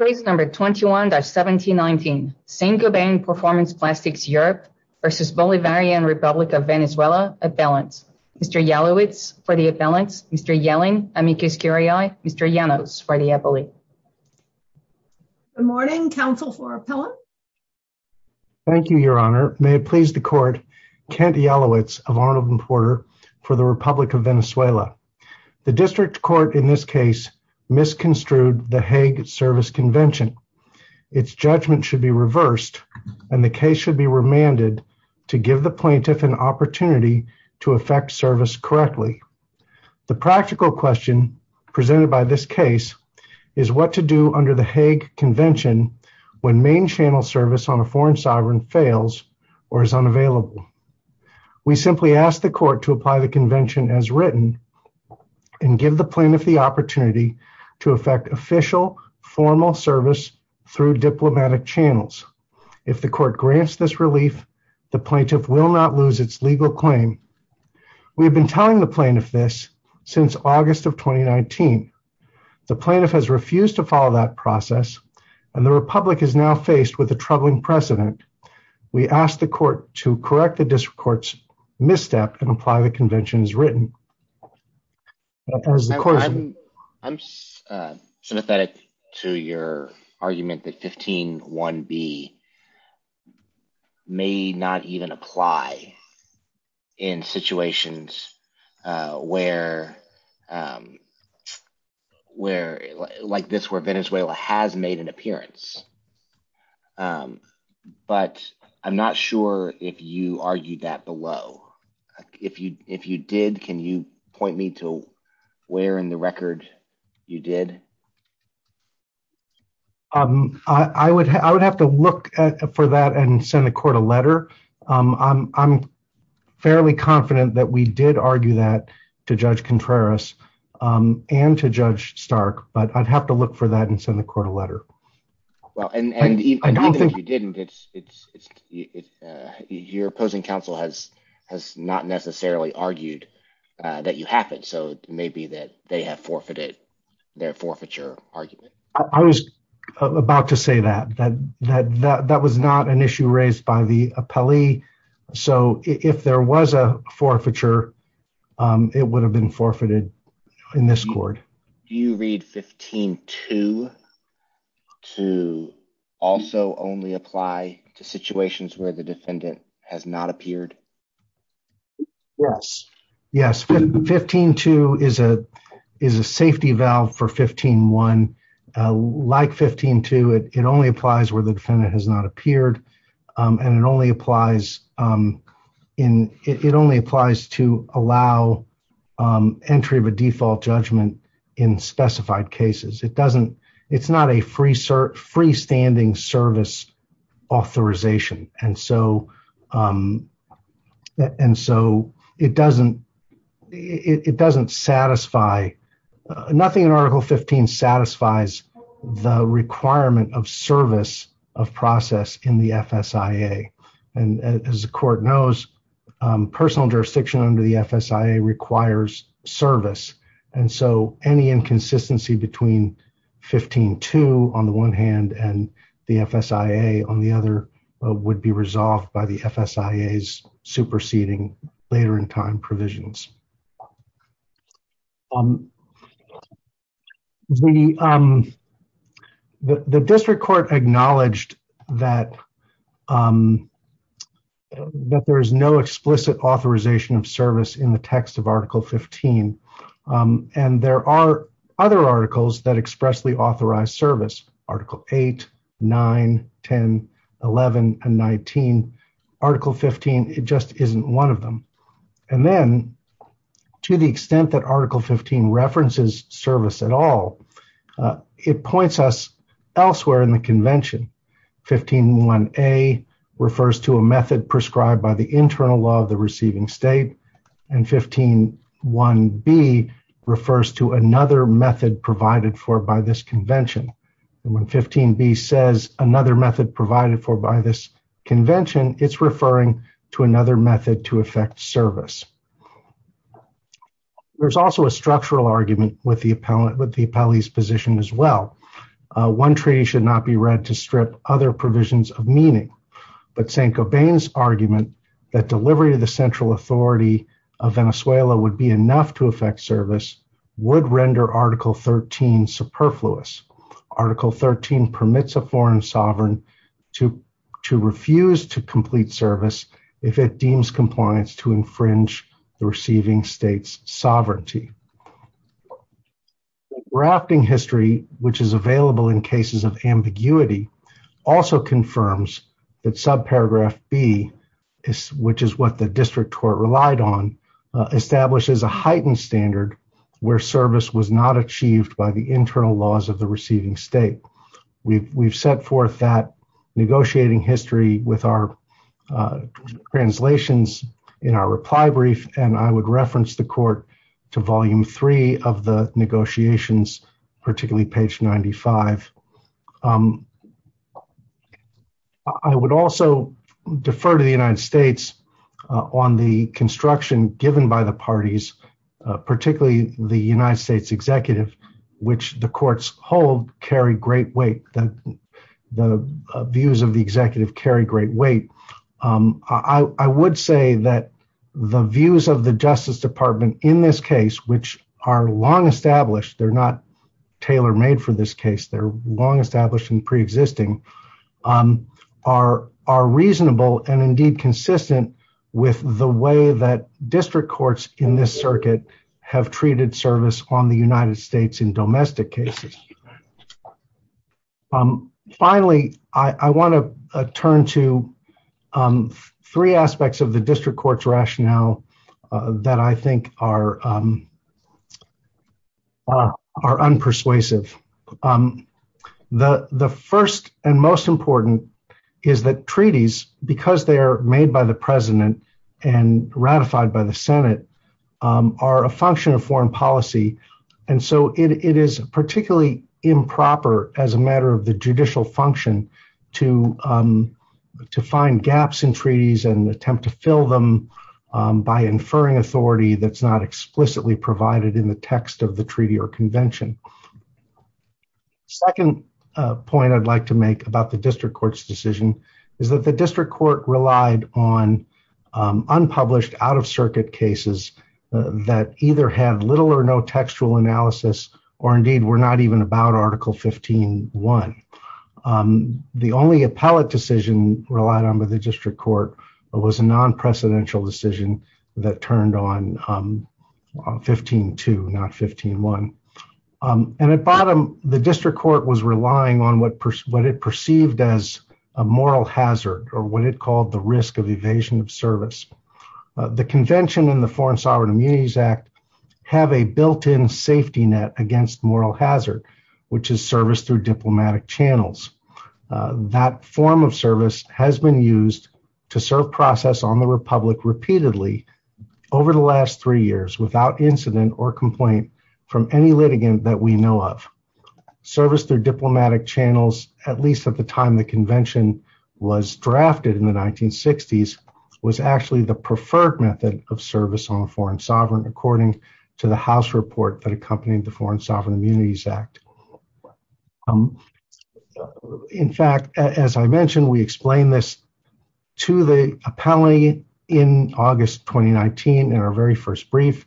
Case No. 21-1719 Saint-Gobain Performance Plastics Europe v. Bolivarian Republic of Venezuela Appellants Mr. Jalowitz for the appellants, Mr. Yelling, amicus curiae, Mr. Llanos for the appellate. Good morning, counsel for appellant. Thank you, Your Honor. May it please the court, Kent Jalowitz of Arnold and Porter for the Republic of Venezuela. The district court in this case misconstrued the Hague Service Convention. Its judgment should be reversed and the case should be remanded to give the plaintiff an opportunity to affect service correctly. The practical question presented by this case is what to do under the Hague Convention when main channel service on a foreign sovereign fails or is unavailable. We simply ask the court to apply the opportunity to affect official formal service through diplomatic channels. If the court grants this relief, the plaintiff will not lose its legal claim. We have been telling the plaintiff this since August of 2019. The plaintiff has refused to follow that process and the Republic is now faced with a troubling precedent. We ask the court to correct the district court's misstep and apply the Hague Convention as written. I'm sympathetic to your argument that 15 1b may not even apply in situations where where like this where Venezuela has made an appearance. But I'm not sure if you argued that below. If you if you did, can you point me to where in the record you did? I would I would have to look for that and send the court a letter. I'm fairly confident that we did argue that to Judge Contreras and to Judge Stark but I'd have to look for that and send the court a letter. Well and even if you didn't it's it's it's your opposing counsel has has not necessarily argued that you have it so it may be that they have forfeited their forfeiture argument. I was about to say that that that that was not an issue raised by the appellee so if there was a forfeiture it would have been forfeited in this court. Do you read 15 2 to also only apply to situations where the defendant has not appeared? Yes yes 15 2 is a is a safety valve for 15 1. Like 15 2 it only applies where the defendant has not entry of a default judgment in specified cases. It doesn't it's not a free sir freestanding service authorization and so and so it doesn't it doesn't satisfy nothing in article 15 satisfies the requirement of service of process in the FSIA and as the court knows personal jurisdiction under the FSIA requires service and so any inconsistency between 15 2 on the one hand and the FSIA on the other would be resolved by the FSIA's superseding later in time provisions. The district court acknowledged that that there is no explicit authorization of service in the text of article 15 and there are other articles that expressly authorize service article 8 9 10 11 and 19 article 15 it just isn't one of them and then to the extent that article 15 references service at all it points us elsewhere in the convention 15 1a refers to a method prescribed by the internal law of the receiving state and 15 1b refers to another method provided for by this convention and when 15b says another method provided for by this convention it's referring to another method to affect service. There's also a structural argument with the appellant with the appellee's position as well. One treaty should not be read to strip other provisions of meaning but Saint-Gobain's argument that delivery to the central authority of Venezuela would be enough to affect service would render article 13 superfluous. Article 13 permits a foreign sovereign to to refuse to complete service if it deems compliance to infringe the receiving state's that subparagraph B is which is what the district court relied on establishes a heightened standard where service was not achieved by the internal laws of the receiving state. We've set forth that negotiating history with our translations in our reply brief and I would reference the court to volume 3 of the negotiations particularly page 95. I would also defer to the United States on the construction given by the parties particularly the United States executive which the courts hold carry great weight that the views of the executive carry great weight. I would say that the views of the Justice Department in this case which are long established they're not tailor-made for this case they're long established and pre-existing are are reasonable and indeed consistent with the way that district courts in this circuit have treated service on the United States in domestic cases. Finally I want to turn to three aspects of the district courts rationale that I think are are unpersuasive. The the first and most important is that treaties because they are made by the president and ratified by the Senate are a function of foreign policy and so it is particularly improper as a matter of the judicial function to to find gaps in treaties and attempt to fill them by inferring authority that's not explicitly provided in the text of the treaty or convention. Second point I'd like to make about the district courts decision is that the district court relied on unpublished out-of-circuit cases that either have little or no textual analysis or indeed were not even about article 15-1. The only appellate decision relied on by the district court was a non-precedential decision that turned on 15-2 not 15-1 and at bottom the district court was relying on what what it perceived as a moral hazard or what it called the risk of evasion of service. The Convention and the Foreign Sovereign Immunities Act have a built-in safety net against moral hazard which is service through diplomatic channels. That form of service has been used to serve process on the Republic repeatedly over the last three years without incident or complaint from any litigant that we know of. Service through diplomatic channels at least at the time the convention was drafted in the 1960s was actually the preferred method of service on a foreign sovereign according to the House report that accompanied the Foreign Sovereign Immunities Act. In fact as I mentioned we explained this to the appellee in August 2019 in our very first brief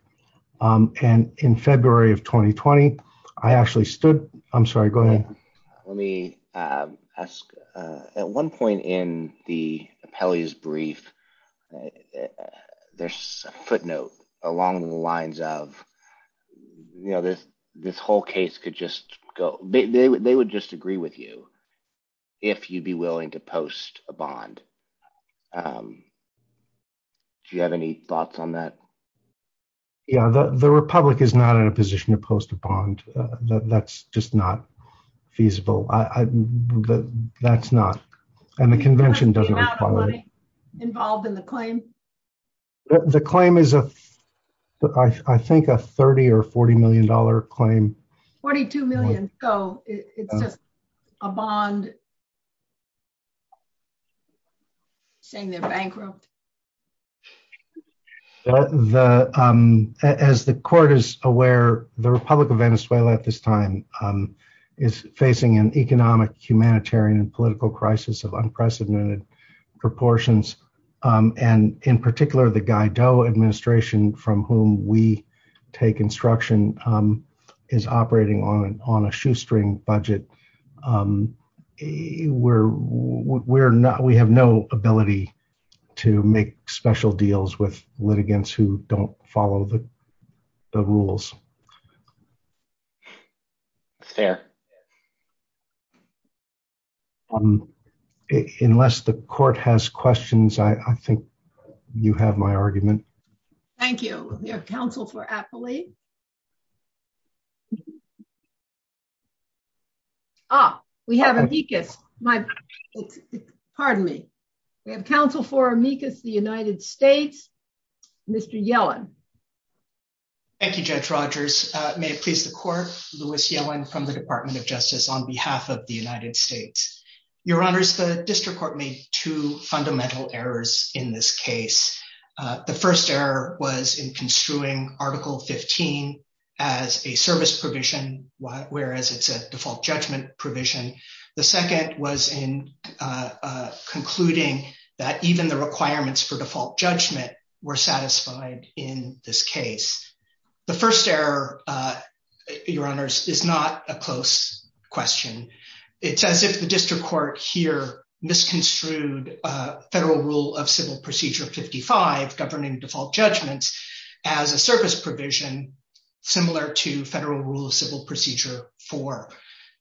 and in February of 2020 I actually stood I'm sorry go ahead. Let me ask at one point in the appellee's brief there's a footnote along the lines of you know this this whole case could just go they would just agree with you if you'd be willing to post a bond. Do you have any thoughts on that? Yeah the Republic is not in a position to post a bond that's just not feasible I that's not and the convention doesn't involve in the claim. The claim is a I think a 30 or 40 million dollar claim. 42 million so it's just a bond saying they're bankrupt. The as the court is aware the Republic of Venezuela at this time is facing an unprecedented proportions and in particular the Guaido administration from whom we take instruction is operating on an on a shoestring budget. We're not we have no ability to make special deals with litigants who don't follow the rules. Fair. Unless the court has questions I think you have my argument. Thank you. We have counsel for appellee. Ah we have amicus my pardon me We have counsel for amicus the United States. Mr. Yellen. Thank you Judge Rogers. May it please the court. Louis Yellen from the Department of Justice on behalf of the United States. Your honors the district court made two fundamental errors in this case. The first error was in construing article 15 as a service provision whereas it's a default judgment provision. The second was in concluding that even the requirements for default judgment were satisfied in this case. The first error your honors is not a close question. It's as if the district court here misconstrued federal rule of civil procedure 55 governing default judgments as a service provision similar to federal rule of civil procedure four.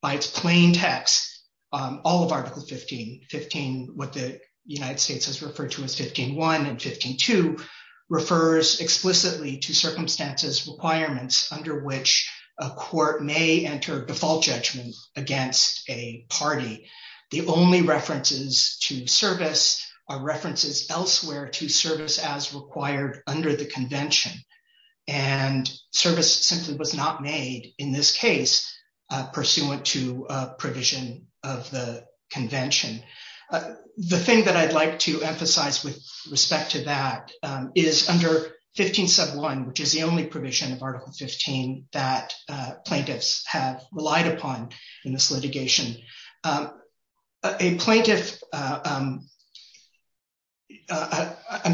By its plain text all of article 15 15 what the United States has referred to as 15 one and 15 two refers explicitly to circumstances requirements under which a court may enter default judgment against a party. The only references to service are references elsewhere to service as pursuant to provision of the convention. The thing that I'd like to emphasize with respect to that is under 15 sub one which is the only provision of article 15 that plaintiffs have relied upon in this litigation. A plaintiff I'm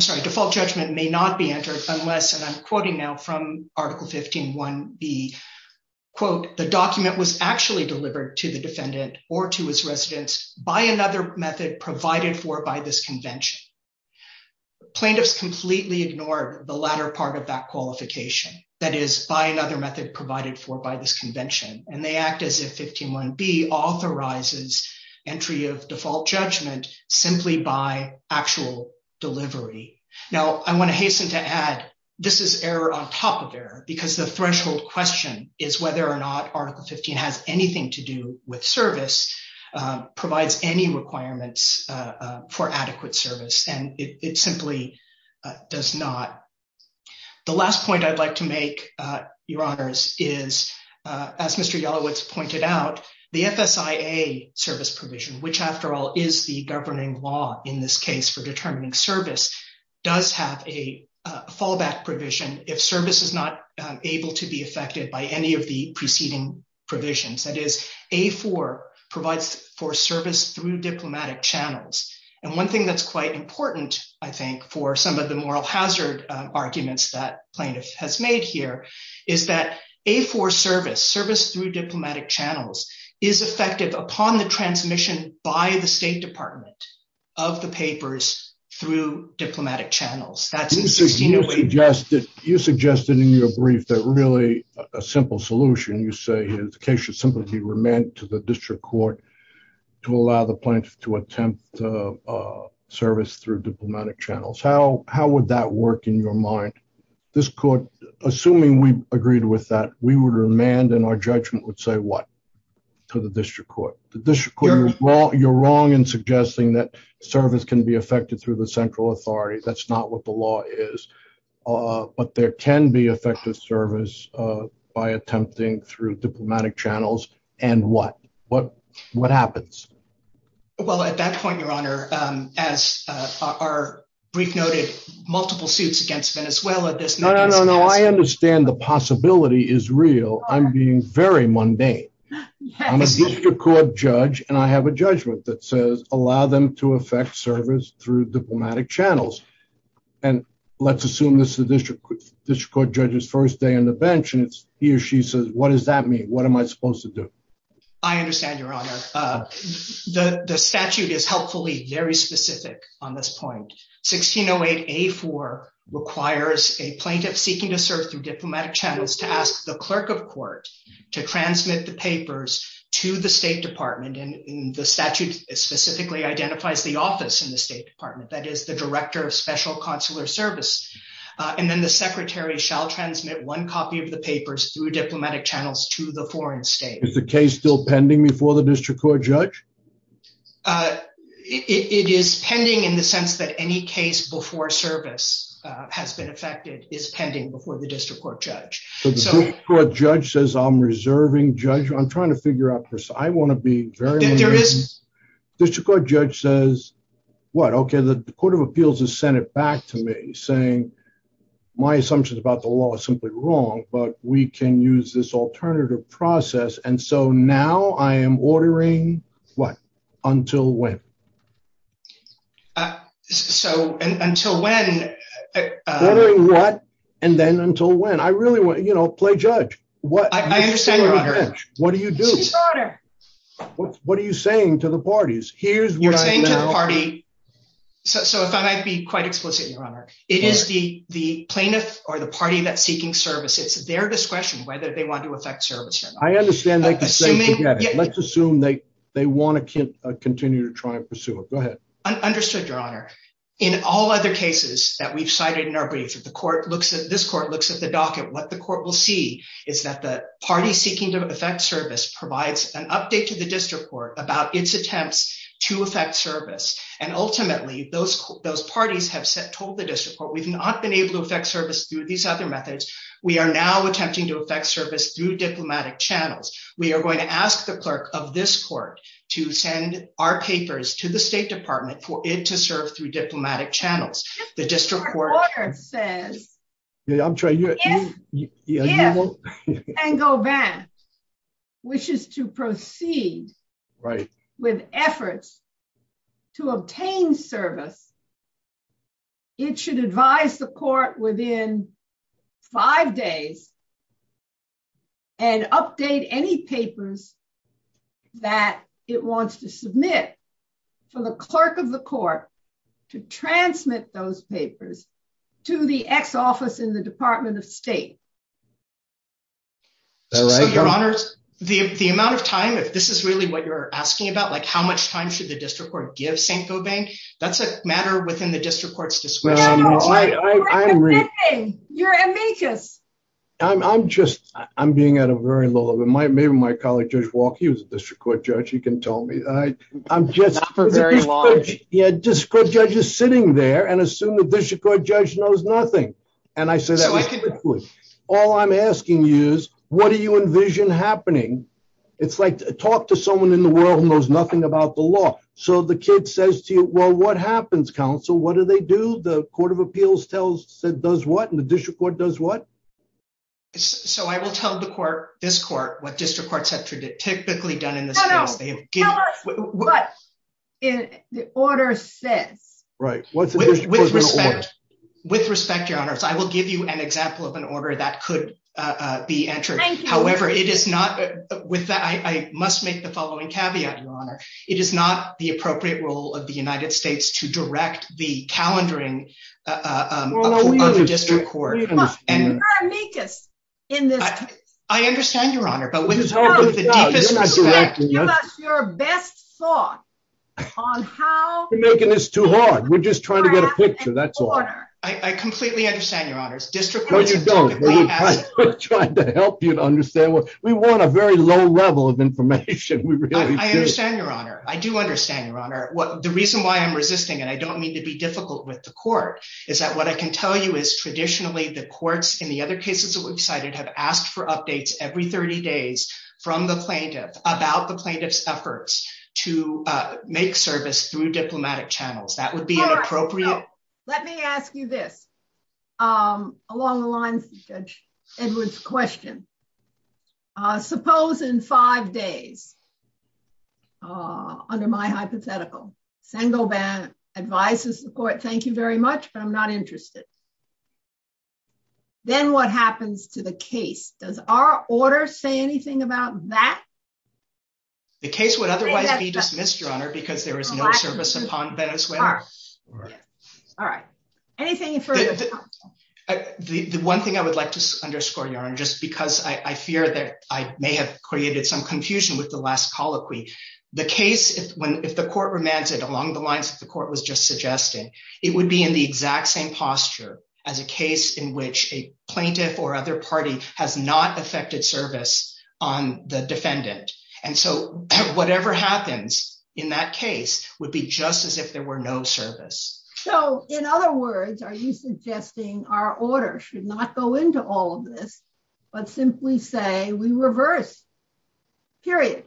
sorry default judgment may not be entered unless and I'm quoting now from article 15 one B quote the document was actually delivered to the defendant or to his residence by another method provided for by this convention. Plaintiffs completely ignored the latter part of that qualification that is by another method provided for by this convention and they act as if 15 one B authorizes entry of default judgment simply by actual delivery. Now I want to to add this is error on top of error because the threshold question is whether or not article 15 has anything to do with service provides any requirements for adequate service and it simply does not. The last point I'd like to make your honors is as Mr. Yelowitz pointed out the FSIA service provision which after all is the governing law in this case for determining service does have a fallback provision if service is not able to be affected by any of the preceding provisions that is a for provides for service through diplomatic channels. And one thing that's quite important I think for some of the moral hazard arguments that plaintiff has made here is that a for service service through diplomatic channels is effective upon the transmission by the State Department of the papers through diplomatic channels. You suggested in your brief that really a simple solution you say his case should simply be remanded to the district court to allow the plaintiff to attempt service through diplomatic channels. How how would that work in your mind? This court assuming we agreed with that we would remand and our judgment would say what to the district court. You're wrong in suggesting that service can be affected through the central authority that's not what the law is but there can be effective service by attempting through diplomatic channels and what what what happens? Well at that point your honor as our brief noted multiple suits against Venezuela. No no no I understand the possibility is real I'm being very court judge and I have a judgment that says allow them to affect service through diplomatic channels and let's assume this the district court judges first day on the bench and it's he or she says what does that mean what am I supposed to do? I understand your honor the the statute is helpfully very specific on this point 1608 a for requires a plaintiff seeking to serve through diplomatic channels to ask the clerk of court to transmit the papers to the State Department and the statute specifically identifies the office in the State Department that is the director of special consular service and then the secretary shall transmit one copy of the papers through diplomatic channels to the foreign state. Is the case still pending before the district court judge? It is pending in the sense that any case before service has been affected is pending before the district court judge. So the court judge says I'm reserving judge I'm trying to figure out I want to be very there is this court judge says what okay the Court of Appeals has sent it back to me saying my assumptions about the law is simply wrong but we can use this alternative process and so now I am ordering what until when? So until when? What and then until when? I really want you know play judge what I understand what do you do? What are you saying to the parties? Here's what I'm saying to the party so if I might be quite explicit your honor it is the the plaintiff or the party that's seeking service it's their discretion whether they want to affect service. I understand they can say yeah let's assume they they want to continue to try and pursue it. Go ahead. Understood your honor in all other cases that we've cited in our brief the court looks at this court looks at the docket what the court will see is that the party seeking to affect service provides an update to the district court about its attempts to affect service and ultimately those those parties have said told the district court we've not been able to affect service through these other methods we are now attempting to affect service through diplomatic channels. We are going to ask the clerk of this court to send our papers to the State Department for it to serve through diplomatic channels. The district court says if Van Gogh Vance wishes to proceed with efforts to obtain service it should advise the court within five days and update any transmit those papers to the ex-office in the Department of State. Your honor the amount of time if this is really what you're asking about like how much time should the district court give St. Gobain that's a matter within the district court's discretion. I'm just I'm being at a very low level my maybe my colleague Judge Walke he was a district court judge he can tell me I I'm just yeah district judge is sitting there and assume the district court judge knows nothing and I said all I'm asking you is what do you envision happening it's like talk to someone in the world knows nothing about the law so the kid says to you well what happens counsel what do they do the Court of Appeals tells it does what and the district court does what? So I will tell the court this court what district courts have typically done in this case. Tell us what the order says. With respect your honor I will give you an example of an order that could be entered however it is not with that I must make the following caveat your honor it is not the appropriate role of the United States to direct the calendaring of the district court. We are not amicus in this case. I understand your honor but with the deepest respect give us your best thought on how we're making this too hard. We're just trying to get a picture that's all. I completely understand your honors district courts typically don't. We're trying to help you to understand what we want a very low level of information. I understand your honor I do understand your honor what the reason why I'm resisting and I don't mean to be difficult with the court is that what I can tell you is traditionally the courts in the other cases that we've cited have asked for updates every 30 days from the plaintiff about the plaintiff's efforts to make service through diplomatic channels. That would be inappropriate. Let me ask you this along the lines of Judge Edwards question suppose in five days under my hypothetical Sengoban advises the court thank you very much but I'm not interested. Then what happens to the case? Does our order say anything about that? The case would otherwise be dismissed your honor because there is no service upon Venezuela. All right anything further? The one thing I would like to underscore your honor just because I fear that I may have created some confusion with the last colloquy the case if when if the court remanded along the lines of the court was just suggesting it would be in the exact same posture as a case in which a plaintiff or other party has not affected service on the defendant and so whatever happens in that case would be just as if there were no service. So in other words are you suggesting our order should not go into all of this but simply say we reverse period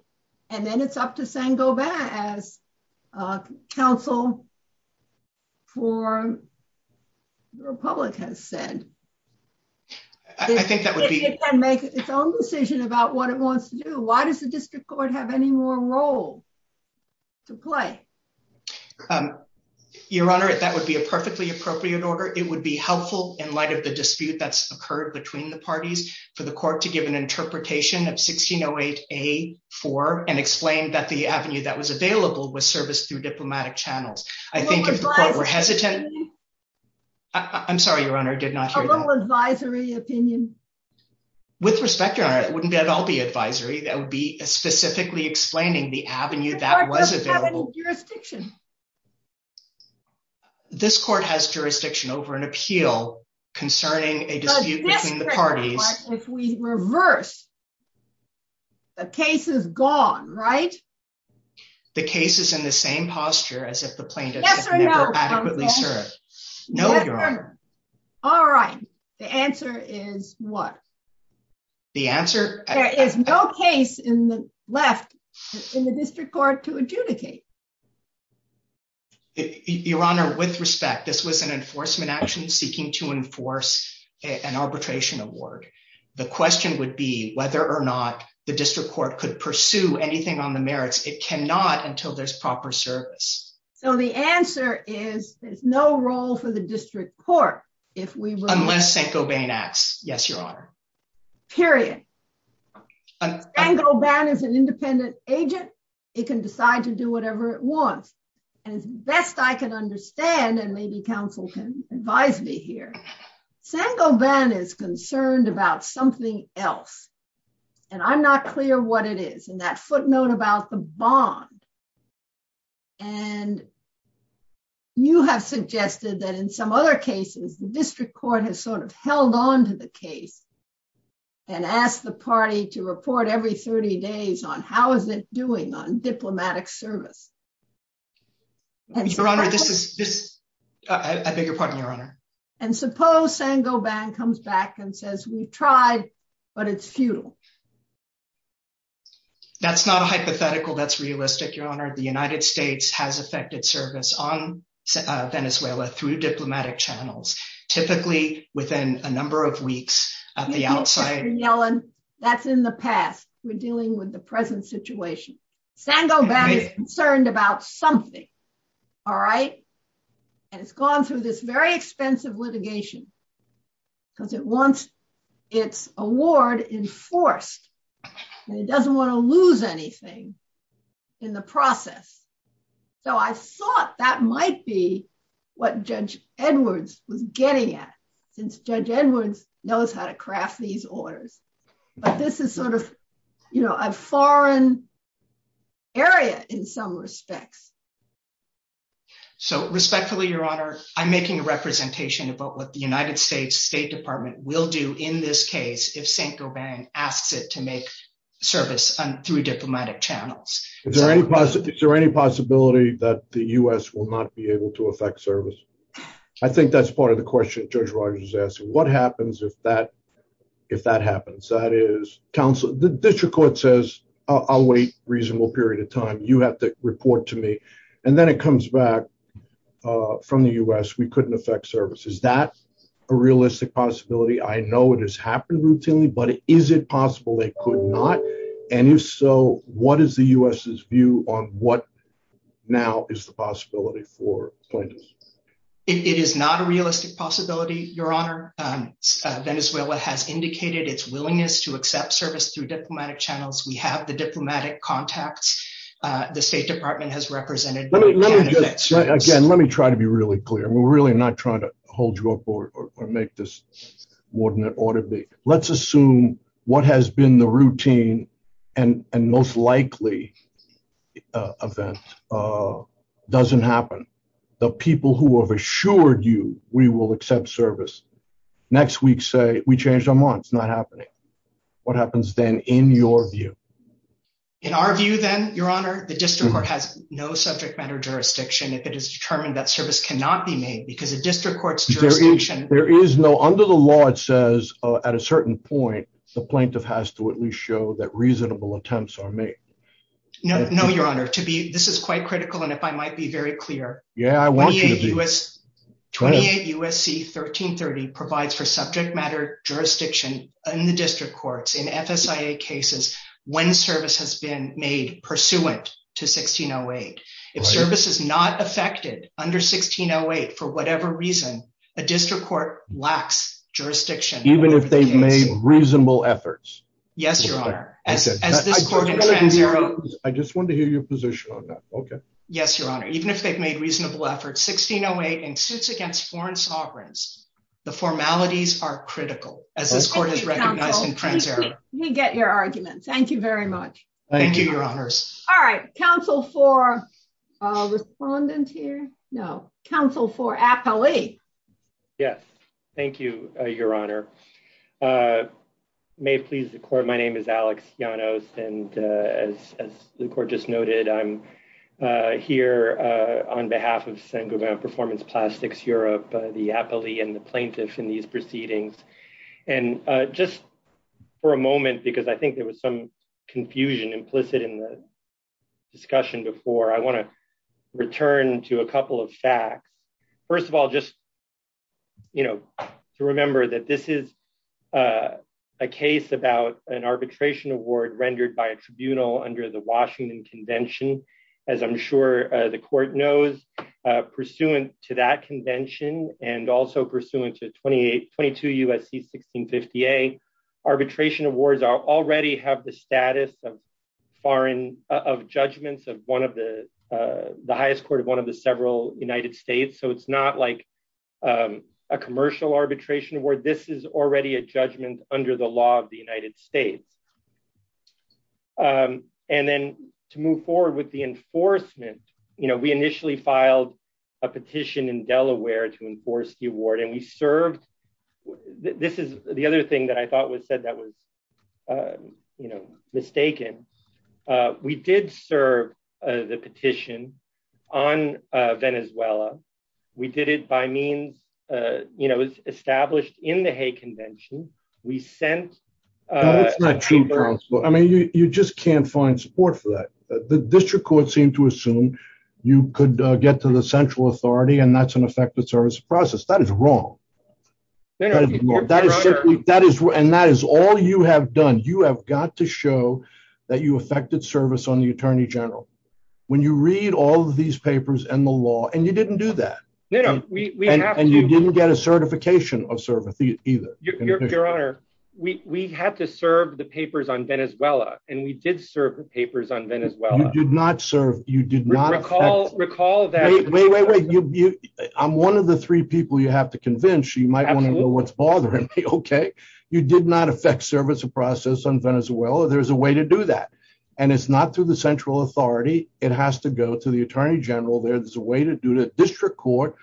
and then it's up to Sengoban as counsel for the Republic has said. I think that would be make its own decision about what it wants to do. Why does the district court have any more role to play? Your honor it that would be a perfectly appropriate order. It would be helpful in light of the dispute that's occurred between the parties for the court to give an interpretation of 1608A.4 and explain that the avenue that was available was serviced through diplomatic channels. I think we're hesitant. I'm sorry your honor did not hear that. A little advisory opinion. With respect your honor it wouldn't be at all be advisory that would be specifically explaining the avenue that was available. The court doesn't have any jurisdiction. This court has jurisdiction over an appeal concerning a dispute between the parties. But if we reverse the case is gone right? The case is in the same posture as if the plaintiff never adequately served. Yes or no? No your honor. All right the answer is what? There is no case in the left in the district court to adjudicate. Your honor with respect this was an enforcement action seeking to enforce an arbitration award. The question would be whether or not the district court could pursue anything on the merits. It cannot until there's proper service. So the answer is there's no role for the district court. Unless St. Gobain acts. Yes your honor. Period. St. Gobain is an independent agent. It can decide to do whatever it wants. And as best I can understand and maybe counsel can advise me here. St. Gobain is concerned about something else. And I'm not clear what it is. And that footnote about the bond. And you have suggested that in some other cases the district court has sort of held on to the case and asked the party to report every 30 days on how is it doing on diplomatic service. Your honor this is this I beg your pardon your honor. And suppose St. Gobain comes back and says we tried but it's futile. That's not a hypothetical that's realistic your honor the United States has affected service on Venezuela through diplomatic channels typically within a number of weeks at the outside. That's in the past. We're dealing with the present situation. St. Gobain is concerned about something. All right. And it's gone through this very expensive litigation because it wants its award enforced. It doesn't want to lose anything in the process. So I thought that might be what Judge Edwards was getting at since Judge Edwards knows how to craft these orders, but this is sort of, you know, a foreign area in some respects. So respectfully, your honor, I'm making a representation about what the United States State Department will do in this case if St. Gobain asks it to make service through diplomatic channels. Is there any possibility that the US will not be able to affect service. I think that's part of the question Judge Rogers is asking what happens if that if that happens, that is, counsel, the district court says, I'll wait reasonable period of time, you have to report to me. And then it comes back from the US. We couldn't affect service. Is that a realistic possibility? I know it has happened routinely, but is it possible they could not? And if so, what is the US's view on what now is the possibility for plaintiffs? It is not a realistic possibility, your honor. Venezuela has indicated its willingness to accept service through diplomatic channels. We have the diplomatic contacts the State Department has represented. Again, let me try to be really clear. We're really not trying to hold you up or make this more than it ought to be. Let's assume what has been the routine and most likely event doesn't happen. The people who have assured you we will accept service next week say we changed our minds not happening. What happens then in your view. In our view, then, your honor, the district court has no subject matter jurisdiction if it is determined that service cannot be made because the district courts. There is no under the law, it says at a certain point, the plaintiff has to at least show that reasonable attempts are made. No, your honor, to be this is quite critical. And if I might be very clear. Yeah, I want you to do is 28 USC 1330 provides for subject matter jurisdiction in the district courts in FSA cases when service has been made pursuant to 1608. If service is not affected under 1608 for whatever reason, a district court lacks jurisdiction, even if they've made reasonable efforts. Yes, your honor. I just want to hear your position on that. Okay. Yes, your honor, even if they've made reasonable efforts 1608 and suits against foreign sovereigns, the formalities are critical as this court is recognizing trends are We get your argument. Thank you very much. Thank you, your honors. All right, counsel for respondent here. No council for Apple. Yes, thank you, your honor. May please record. My name is Alex, you know, and as the court just noted, I'm here on behalf of single performance plastics Europe, the happily and the plaintiffs in these proceedings. And just for a moment, because I think there was some confusion implicit in the discussion before I want to return to a couple of facts. First of all, just To remember that this is A case about an arbitration award rendered by a tribunal under the Washington Convention, as I'm sure the court knows Pursuant to that convention and also pursuant to 2822 USC 1650 a arbitration awards are already have the status of foreign of judgments of one of the The highest court of one of the several United States. So it's not like A commercial arbitration where this is already a judgment under the law of the United States. And then to move forward with the enforcement, you know, we initially filed a petition in Delaware to enforce the award and we served. This is the other thing that I thought was said that was You know, mistaken. We did serve the petition on Venezuela. We did it by means, you know, established in the Hague Convention, we sent That's not true. I mean, you just can't find support for that the district court seem to assume you could get to the central authority and that's an effective service process that is wrong. That is, that is, and that is all you have done. You have got to show that you affected service on the Attorney General, when you read all these papers and the law and you didn't do that. And you didn't get a certification of service, either. Your Honor, we had to serve the papers on Venezuela, and we did serve the papers on Venezuela. You did not serve, you did not Recall that I'm one of the three people you have to convince you might want to know what's bothering me. Okay, you did not affect service of process on Venezuela. There's a way to do that. And it's not through the central authority. It has to go to the Attorney General there. There's a way to do the district court.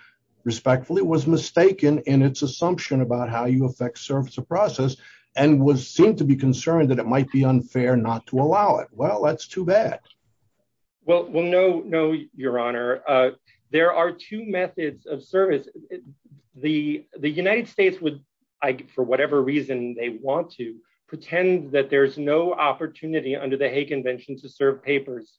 Respectfully was mistaken in its assumption about how you affect service of process and was seemed to be concerned that it might be unfair not to allow it. Well, that's too bad. Well, no, no, Your Honor. There are two methods of service. The United States would, for whatever reason they want to, pretend that there's no opportunity under the Hague Convention to serve papers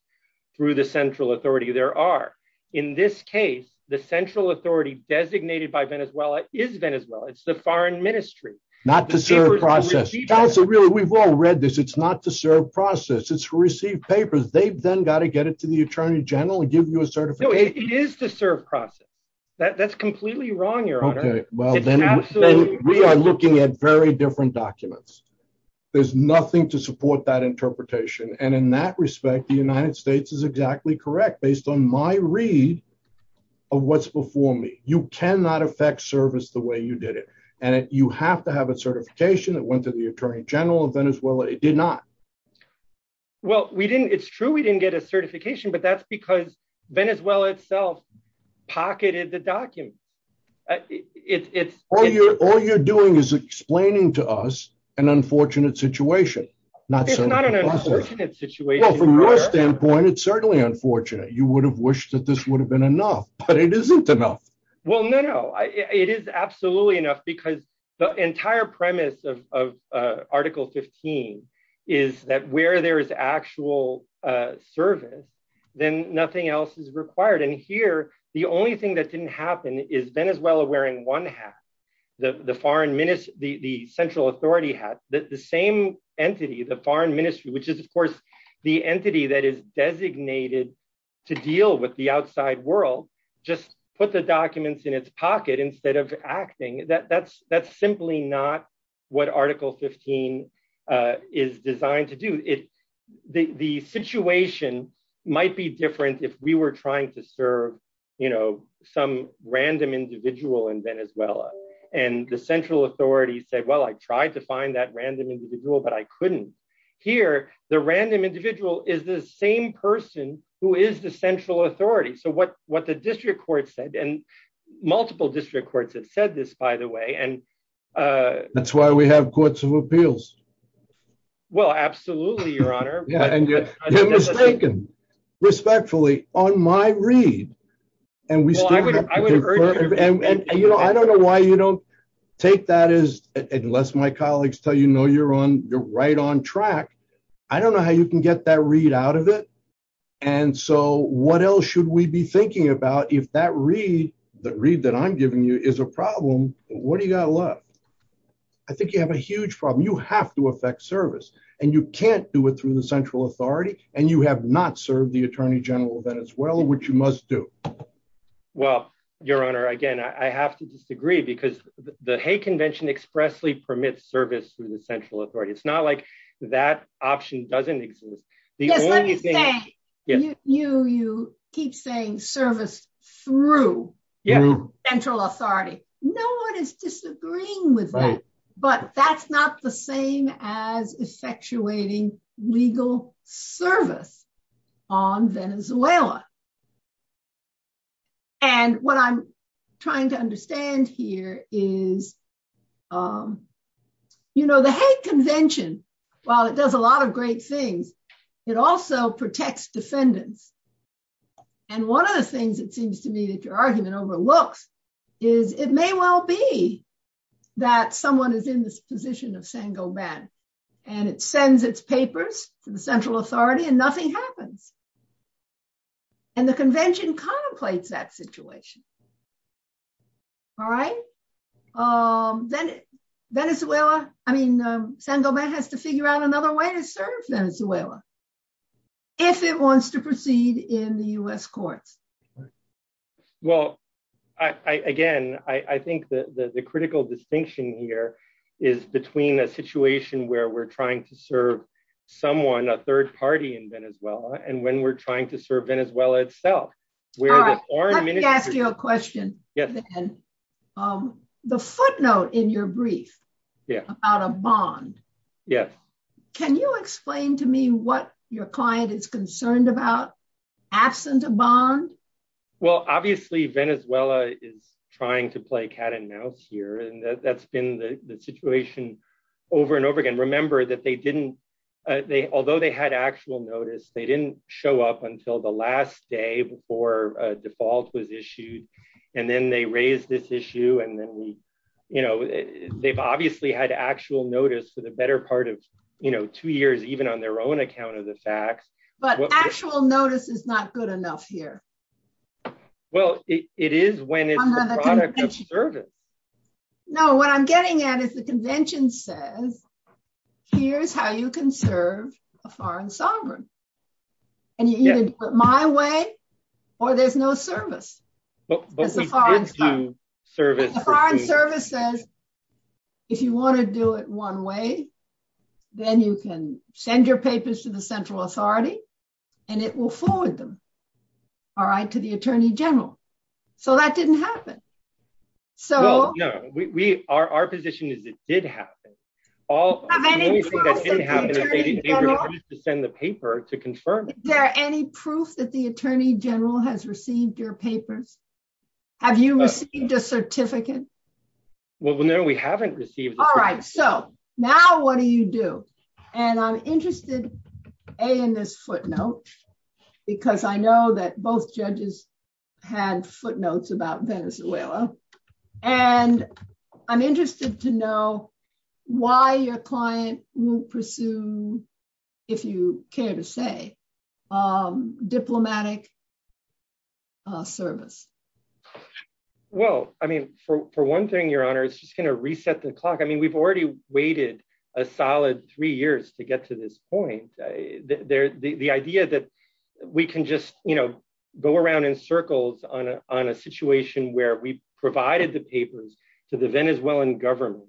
through the central authority. There are. In this case, the central authority designated by Venezuela is Venezuela. It's the foreign ministry. Not to serve process. Counselor, really, we've all read this. It's not to serve process. It's to receive papers. They've then got to get it to the Attorney General and give you a certification. No, it is to serve process. That's completely wrong, Your Honor. Okay, well, then we are looking at very different documents. There's nothing to support that interpretation. And in that respect, the United States is exactly correct, based on my read of what's before me. You cannot affect service the way you did it. And you have to have a certification that went to the Attorney General of Venezuela. It did not. Well, it's true we didn't get a certification, but that's because Venezuela itself pocketed the document. All you're doing is explaining to us an unfortunate situation. It's not an unfortunate situation. Well, from your standpoint, it's certainly unfortunate. You would have wished that this would have been enough, but it isn't enough. Well, no, no. It is absolutely enough because the entire premise of Article 15 is that where there is actual service, then nothing else is required. And here, the only thing that didn't happen is Venezuela wearing one hat. The Central Authority hat. The same entity, the foreign ministry, which is, of course, the entity that is designated to deal with the outside world, just put the documents in its pocket instead of acting. That's simply not what Article 15 is designed to do. The situation might be different if we were trying to serve some random individual in Venezuela. And the Central Authority said, well, I tried to find that random individual, but I couldn't. Here, the random individual is the same person who is the Central Authority. So what the district court said, and multiple district courts have said this, by the way. That's why we have courts of appeals. Well, absolutely, Your Honor. You're mistaken. Respectfully, on my read, and I don't know why you don't take that as, unless my colleagues tell you, no, you're right on track. I don't know how you can get that read out of it. And so what else should we be thinking about if that read that I'm giving you is a problem? What do you got to look? I think you have a huge problem. You have to affect service, and you can't do it through the Central Authority, and you have not served the Attorney General of Venezuela, which you must do. Well, Your Honor, again, I have to disagree because the Hague Convention expressly permits service through the Central Authority. It's not like that option doesn't exist. Yes, let me say, you keep saying service through the Central Authority. No one is disagreeing with that, but that's not the same as effectuating legal service on Venezuela. And what I'm trying to understand here is, you know, the Hague Convention, while it does a lot of great things, it also protects defendants. And one of the things it seems to me that your argument overlooks is it may well be that someone is in this position of Sangoban, and it sends its papers to the Central Authority and nothing happens. And the convention contemplates that situation. All right. Venezuela, I mean, Sangoban has to figure out another way to serve Venezuela, if it wants to proceed in the U.S. courts. Well, again, I think that the critical distinction here is between a situation where we're trying to serve someone, a third party in Venezuela, and when we're trying to serve Venezuela itself. Let me ask you a question. The footnote in your brief about a bond. Can you explain to me what your client is concerned about, absent a bond? Well, obviously, Venezuela is trying to play cat and mouse here, and that's been the situation over and over again. Remember that they didn't, although they had actual notice, they didn't show up until the last day before a default was issued. And then they raised this issue, and then we, you know, they've obviously had actual notice for the better part of, you know, two years, even on their own account of the facts. But actual notice is not good enough here. Well, it is when it's a product of service. No, what I'm getting at is the convention says, here's how you can serve a foreign sovereign. And you either do it my way, or there's no service. But the foreign service says, if you want to do it one way, then you can send your papers to the central authority, and it will forward them. All right, to the Attorney General. So that didn't happen. So, no, we are our position is it did happen. Have any proof that the Attorney General has received your papers? Have you received a certificate? Well, no, we haven't received a certificate. All right, so now what do you do? And I'm interested, A, in this footnote, because I know that both judges had footnotes about Venezuela. And I'm interested to know why your client will pursue, if you care to say, diplomatic service. Well, I mean, for one thing, Your Honor, it's just going to reset the clock. I mean, we've already waited a solid three years to get to this point. The idea that we can just, you know, go around in circles on a situation where we provided the papers to the Venezuelan government.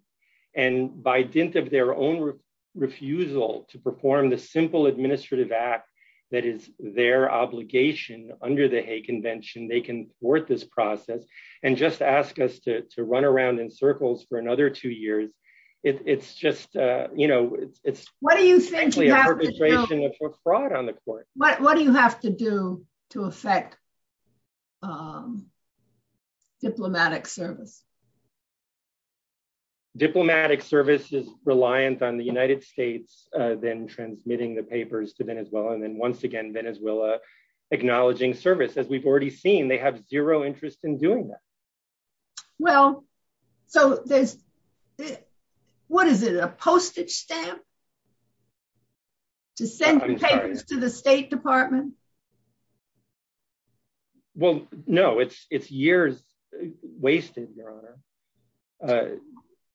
And by dint of their own refusal to perform the simple administrative act that is their obligation under the Hague Convention, they can thwart this process and just ask us to run around in circles for another two years. It's just, you know, it's a fraud on the court. What do you have to do to effect diplomatic service? Diplomatic service is reliant on the United States then transmitting the papers to Venezuela and then once again Venezuela acknowledging service. As we've already seen, they have zero interest in doing that. Well, so there's, what is it, a postage stamp to send the papers to the State Department? Well, no, it's years wasted, Your Honor.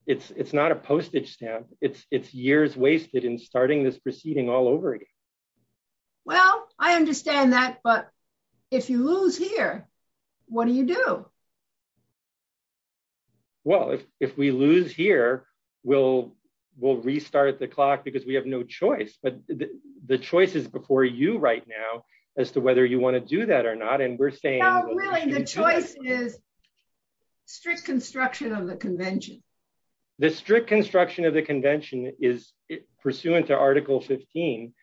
It's not a postage stamp. It's years wasted in starting this proceeding all over again. Well, I understand that, but if you lose here, what do you do? Well, if we lose here, we'll restart the clock because we have no choice. But the choice is before you right now as to whether you want to do that or not. And we're saying... No, really, the choice is strict construction of the convention. The strict construction of the convention is pursuant to Article 15.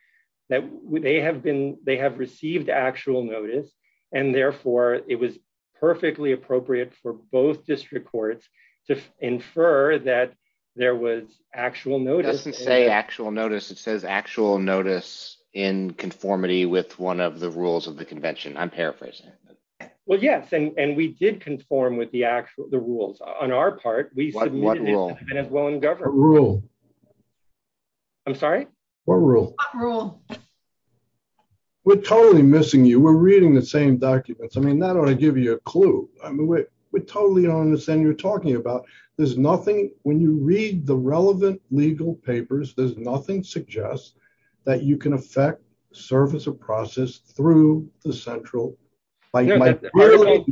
They have received actual notice and therefore it was perfectly appropriate for both district courts to infer that there was actual notice. It doesn't say actual notice. It says actual notice in conformity with one of the rules of the convention. I'm paraphrasing. Well, yes, and we did conform with the rules. On our part, we submitted... What rule? I'm sorry? What rule? We're totally missing you. We're reading the same documents. I mean, that ought to give you a clue. I mean, we totally don't understand what you're talking about. There's nothing... When you read the relevant legal papers, there's nothing suggests that you can affect the service of process through the central... I'm really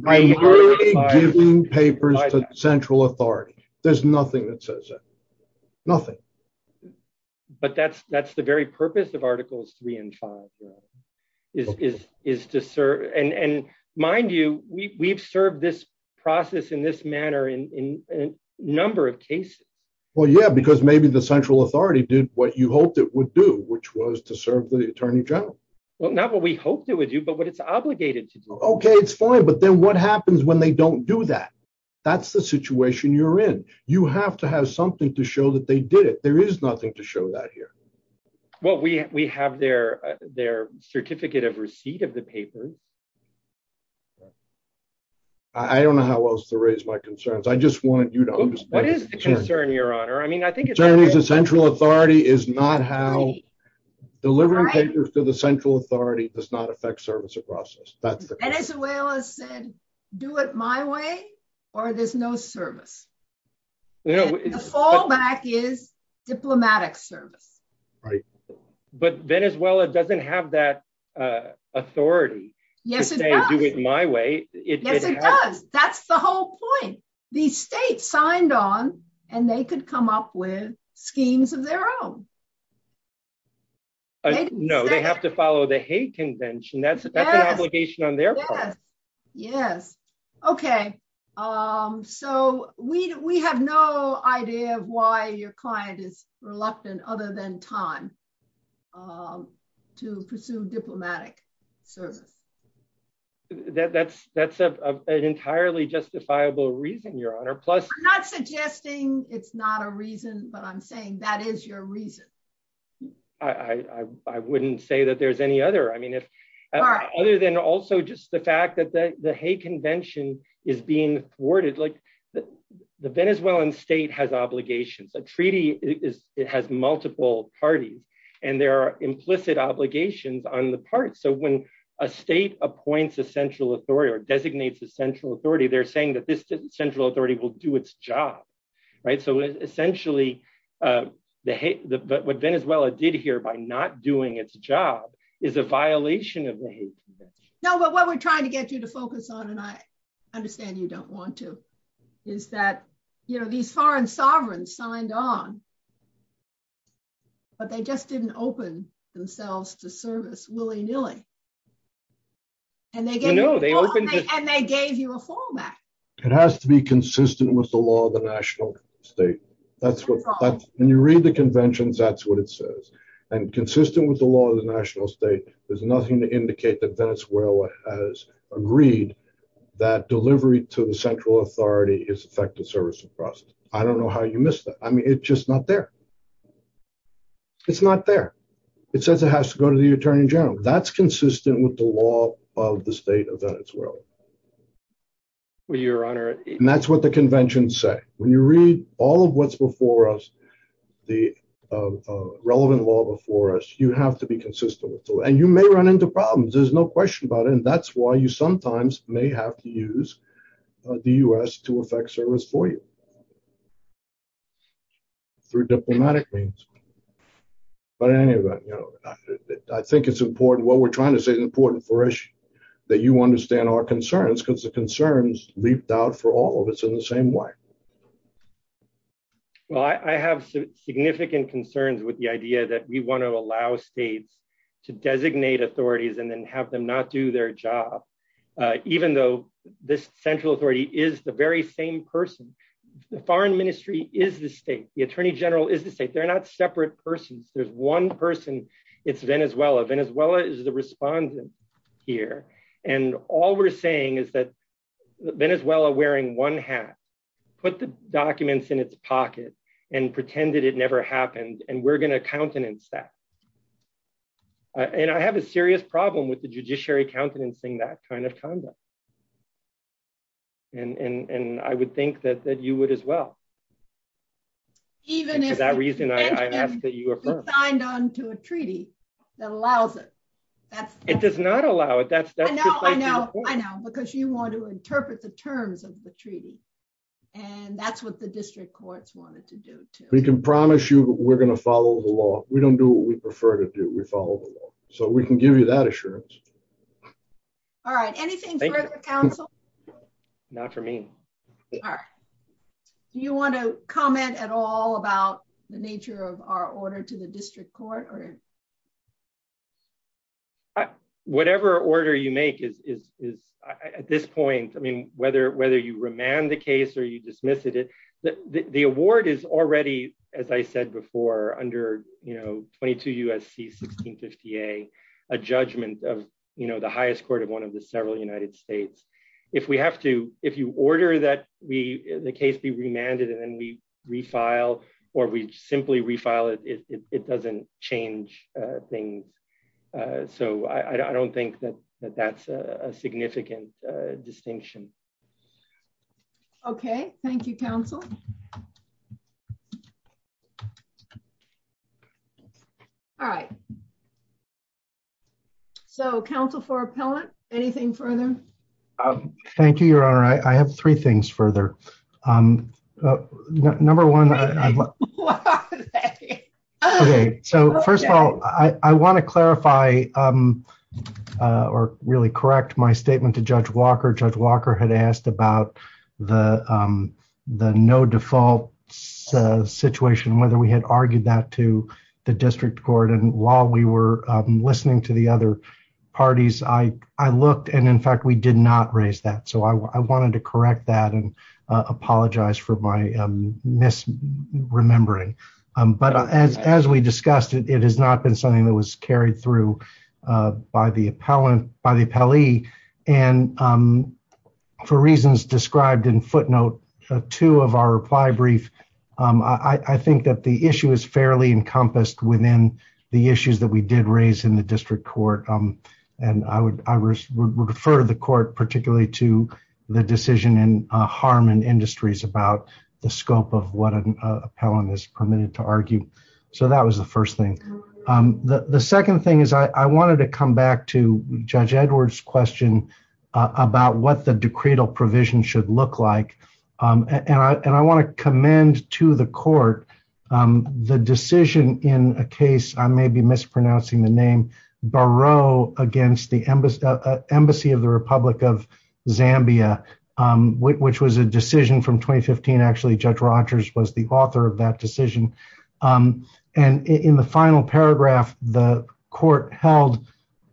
giving papers to central authority. There's nothing that says that. Nothing. But that's the very purpose of Articles 3 and 5 is to serve... And mind you, we've served this process in this manner in a number of cases. Well, yeah, because maybe the central authority did what you hoped it would do, which was to serve the Attorney General. Well, not what we hoped it would do, but what it's obligated to do. Okay, it's fine, but then what happens when they don't do that? That's the situation you're in. You have to have something to show that they did it. There is nothing to show that here. Well, we have their certificate of receipt of the papers. I don't know how else to raise my concerns. I just wanted you to understand... What is the concern, Your Honor? I mean, I think it's... Delivering papers to the central authority is not how... Delivering papers to the central authority does not affect service of process. Venezuela said, do it my way, or there's no service. The fallback is diplomatic service. But Venezuela doesn't have that authority to say, do it my way. Yes, it does. That's the whole point. These states signed on, and they could come up with schemes of their own. No, they have to follow the hate convention. That's an obligation on their part. Yes. Okay. So we have no idea of why your client is reluctant, other than time, to pursue diplomatic service. That's an entirely justifiable reason, Your Honor. Plus... I'm not suggesting it's not a reason, but I'm saying that is your reason. I wouldn't say that there's any other. I mean, other than also just the fact that the hate convention is being thwarted. The Venezuelan state has obligations. A treaty has multiple parties, and there are implicit obligations on the part. So when a state appoints a central authority or designates a central authority, they're saying that this central authority will do its job. So essentially, what Venezuela did here by not doing its job is a violation of the hate convention. No, but what we're trying to get you to focus on, and I understand you don't want to, is that these foreign sovereigns signed on, but they just didn't open themselves to service willy-nilly. And they gave you a fallback. It has to be consistent with the law of the national state. When you read the conventions, that's what it says. And consistent with the law of the national state, there's nothing to indicate that Venezuela has agreed that delivery to the central authority is effective service. I don't know how you missed that. I mean, it's just not there. It's not there. It says it has to go to the attorney general. That's consistent with the law of the state of Venezuela. And that's what the conventions say. When you read all of what's before us, the relevant law before us, you have to be consistent with it. And you may run into problems. There's no question about it. And that's why you sometimes may have to use the U.S. to effect service for you through diplomatic means. But in any event, I think it's important, what we're trying to say is important for us that you understand our concerns, because the concerns leaped out for all of us in the same way. Well, I have some significant concerns with the idea that we want to allow states to designate authorities and then have them not do their job, even though this central authority is the very same person. The foreign ministry is the state. The attorney general is the state. They're not separate persons. There's one person. It's Venezuela. Venezuela is the respondent here. And all we're saying is that Venezuela, wearing one hat, put the documents in its pocket and pretended it never happened. And we're going to countenance that. And I have a serious problem with the judiciary countenancing that kind of conduct. And I would think that you would as well. Even if the Pentagon signed on to a treaty that allows it. It does not allow it. I know. I know. I know. Because you want to interpret the terms of the treaty. And that's what the district courts wanted to do. We can promise you we're going to follow the law. We don't do what we prefer to do. We follow the law. So we can give you that assurance. All right. Anything further, counsel? Not for me. All right. Do you want to comment at all about the nature of our order to the district court? Whatever order you make is, at this point, I mean, whether you remand the case or you dismiss it, the award is already, as I said before, under 22 U.S.C. 1650A, a judgment of the highest court of one of the several United States. If we have to, if you order that the case be remanded and then we refile or we simply refile it, it doesn't change things. So I don't think that that's a significant distinction. Okay. Thank you, counsel. All right. So, counsel, for appellant, anything further? Thank you, Your Honor. I have three things further. Number one. So, first of all, I want to clarify or really correct my statement to Judge Walker. Judge Walker had asked about the no default situation, whether we had argued that to the district court. We were listening to the other parties. I looked and, in fact, we did not raise that. So I wanted to correct that and apologize for my misremembering. But as we discussed, it has not been something that was carried through by the appellee. And for reasons described in footnote two of our reply brief, I think that the issue is fairly encompassed within the issues that we did raise in the district court. And I would refer the court particularly to the decision in Harmon Industries about the scope of what an appellant is permitted to argue. So that was the first thing. The second thing is I wanted to come back to Judge Edwards' question about what the decretal provision should look like. And I want to commend to the court the decision in a case, I may be mispronouncing the name, Barreau against the Embassy of the Republic of Zambia, which was a decision from 2015. Actually, Judge Rogers was the author of that decision. And in the final paragraph, the court held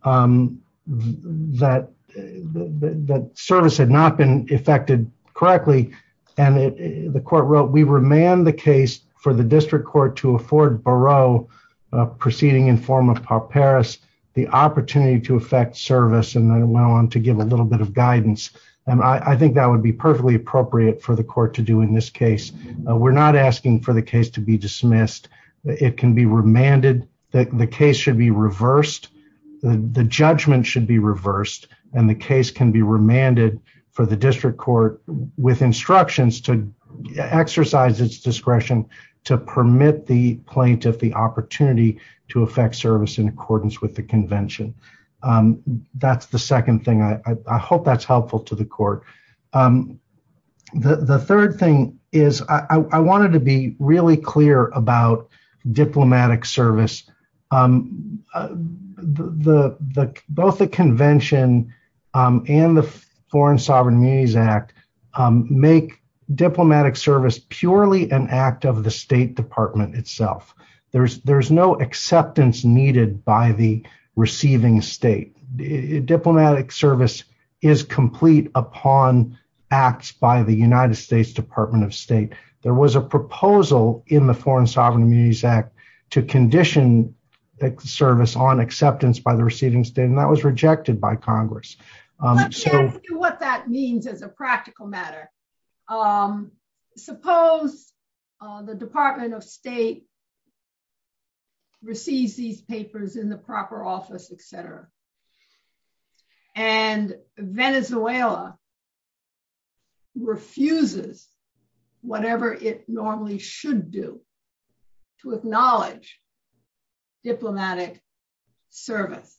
that service had not been effected correctly. And the court wrote, we remand the case for the district court to afford Barreau, proceeding in form of pauperis, the opportunity to effect service. And I went on to give a little bit of guidance. And I think that would be perfectly appropriate for the court to do in this case. We're not asking for the case to be dismissed. It can be remanded. The case should be reversed. The judgment should be reversed. And the case can be remanded for the district court with instructions to exercise its discretion to permit the plaintiff the opportunity to effect service in accordance with the convention. That's the second thing. I hope that's helpful to the court. The third thing is I wanted to be really clear about diplomatic service. Both the convention and the Foreign Sovereign Immunities Act make diplomatic service purely an act of the State Department itself. There's no acceptance needed by the receiving state. Diplomatic service is complete upon acts by the United States Department of State. There was a proposal in the Foreign Sovereign Immunities Act to condition the service on acceptance by the receiving state. And that was rejected by Congress. Let me ask you what that means as a practical matter. Suppose the Department of State receives these papers in the proper office, etc. And Venezuela refuses whatever it normally should do to acknowledge diplomatic service.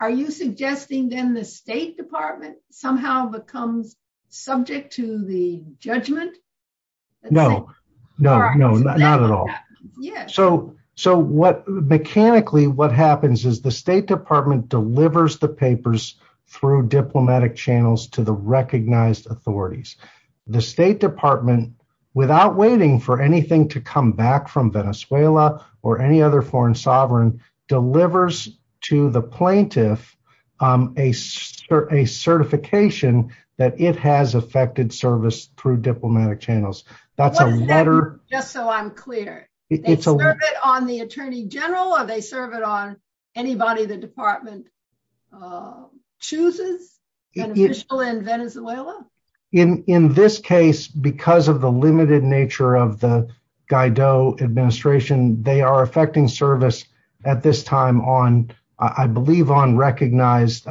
Are you suggesting then the State Department somehow becomes subject to the judgment? No, no, no, not at all. So what mechanically what happens is the State Department delivers the papers through diplomatic channels to the recognized authorities. The State Department, without waiting for anything to come back from Venezuela or any other foreign sovereign, delivers to the plaintiff a certification that it has affected service through diplomatic channels. Just so I'm clear. They serve it on the Attorney General or they serve it on anybody the Department chooses in Venezuela? In this case, because of the limited nature of the Guaido administration, they are affecting service at this time on, I believe, on recognized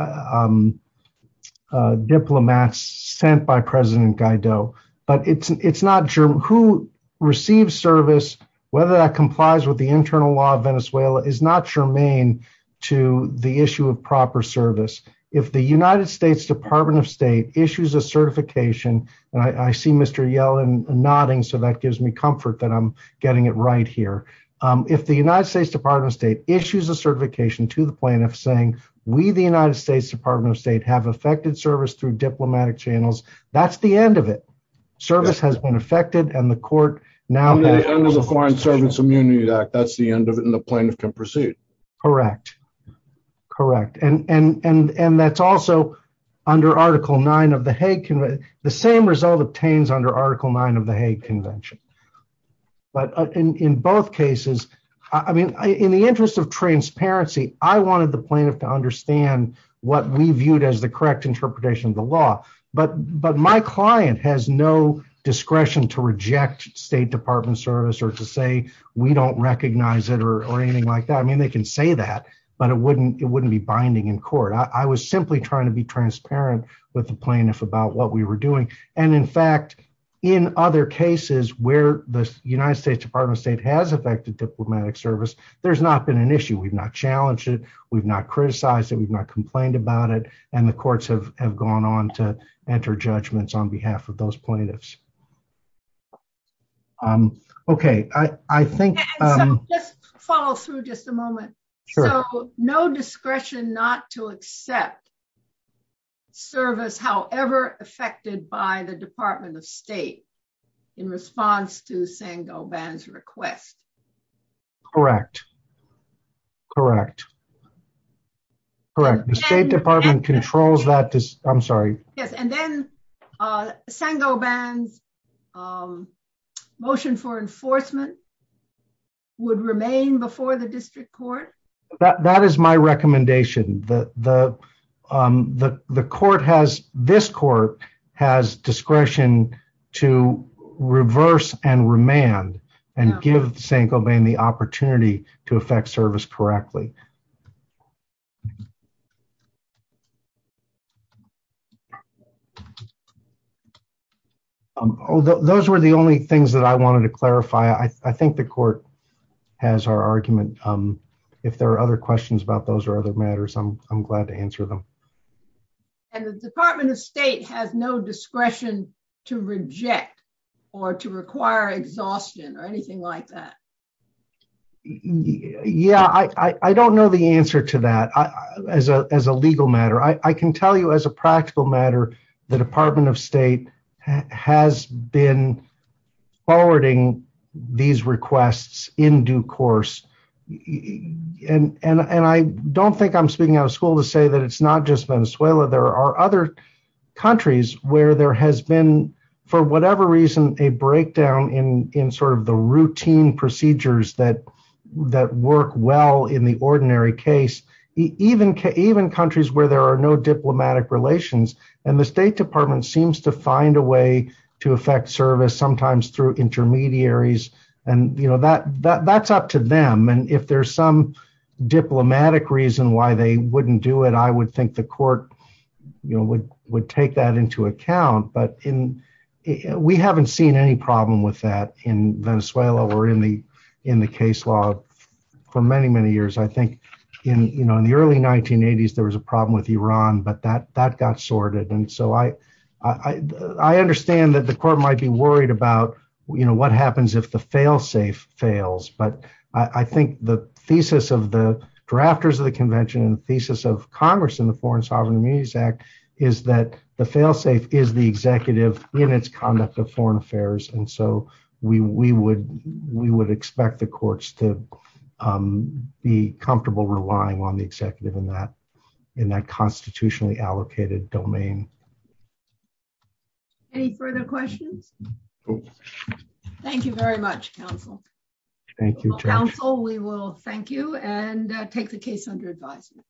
diplomats sent by President Guaido. But who receives service, whether that complies with the internal law of Venezuela, is not germane to the issue of proper service. If the United States Department of State issues a certification, and I see Mr. Yellen nodding, so that gives me comfort that I'm getting it right here. If the United States Department of State issues a certification to the plaintiff saying we, the United States Department of State, have affected service through diplomatic channels, that's the end of it. Service has been affected and the court now... Under the Foreign Service Immunity Act, that's the end of it and the plaintiff can proceed. Correct. Correct. And that's also under Article 9 of the Hague Convention. The same result obtains under Article 9 of the Hague Convention. But in both cases, I mean, in the interest of transparency, I wanted the plaintiff to understand what we viewed as the correct interpretation of the law. But my client has no discretion to reject State Department service or to say we don't recognize it or anything like that. I mean, they can say that, but it wouldn't be binding in court. I was simply trying to be transparent with the plaintiff about what we were doing. And in fact, in other cases where the United States Department of State has affected diplomatic service, there's not been an issue. We've not challenged it. We've not criticized it. We've not complained about it. And the courts have gone on to enter judgments on behalf of those plaintiffs. Okay, I think... Just follow through just a moment. No discretion not to accept service, however, affected by the Department of State in response to Sango Ban's request. Correct. Correct. Correct. The State Department controls that. I'm sorry. Yes, and then Sango Ban's motion for enforcement would remain before the district court? That is my recommendation. This court has discretion to reverse and remand and give Sango Ban the opportunity to affect service correctly. Those were the only things that I wanted to clarify. I think the court has our argument. If there are other questions about those or other matters, I'm glad to answer them. And the Department of State has no discretion to reject or to require exhaustion or anything like that. Yeah, I don't know the answer to that as a legal matter. I can tell you as a practical matter, the Department of State has been forwarding these requests in due course. And I don't think I'm speaking out of school to say that it's not just Venezuela. There are other countries where there has been, for whatever reason, a breakdown in sort of the routine procedures that work well in the ordinary case. Even countries where there are no diplomatic relations. And the State Department seems to find a way to affect service, sometimes through intermediaries. And that's up to them. And if there's some diplomatic reason why they wouldn't do it, I would think the court would take that into account. But we haven't seen any problem with that in Venezuela or in the case law for many, many years. I think in the early 1980s, there was a problem with Iran, but that got sorted. And so I understand that the court might be worried about, you know, what happens if the failsafe fails. But I think the thesis of the drafters of the convention and the thesis of Congress in the Foreign Sovereign Immunities Act is that the failsafe is the executive in its conduct of foreign affairs. And so we would expect the courts to be comfortable relying on the executive in that constitutionally allocated domain. Any further questions? Thank you very much, counsel. Thank you, Judge. Counsel, we will thank you and take the case under advisement.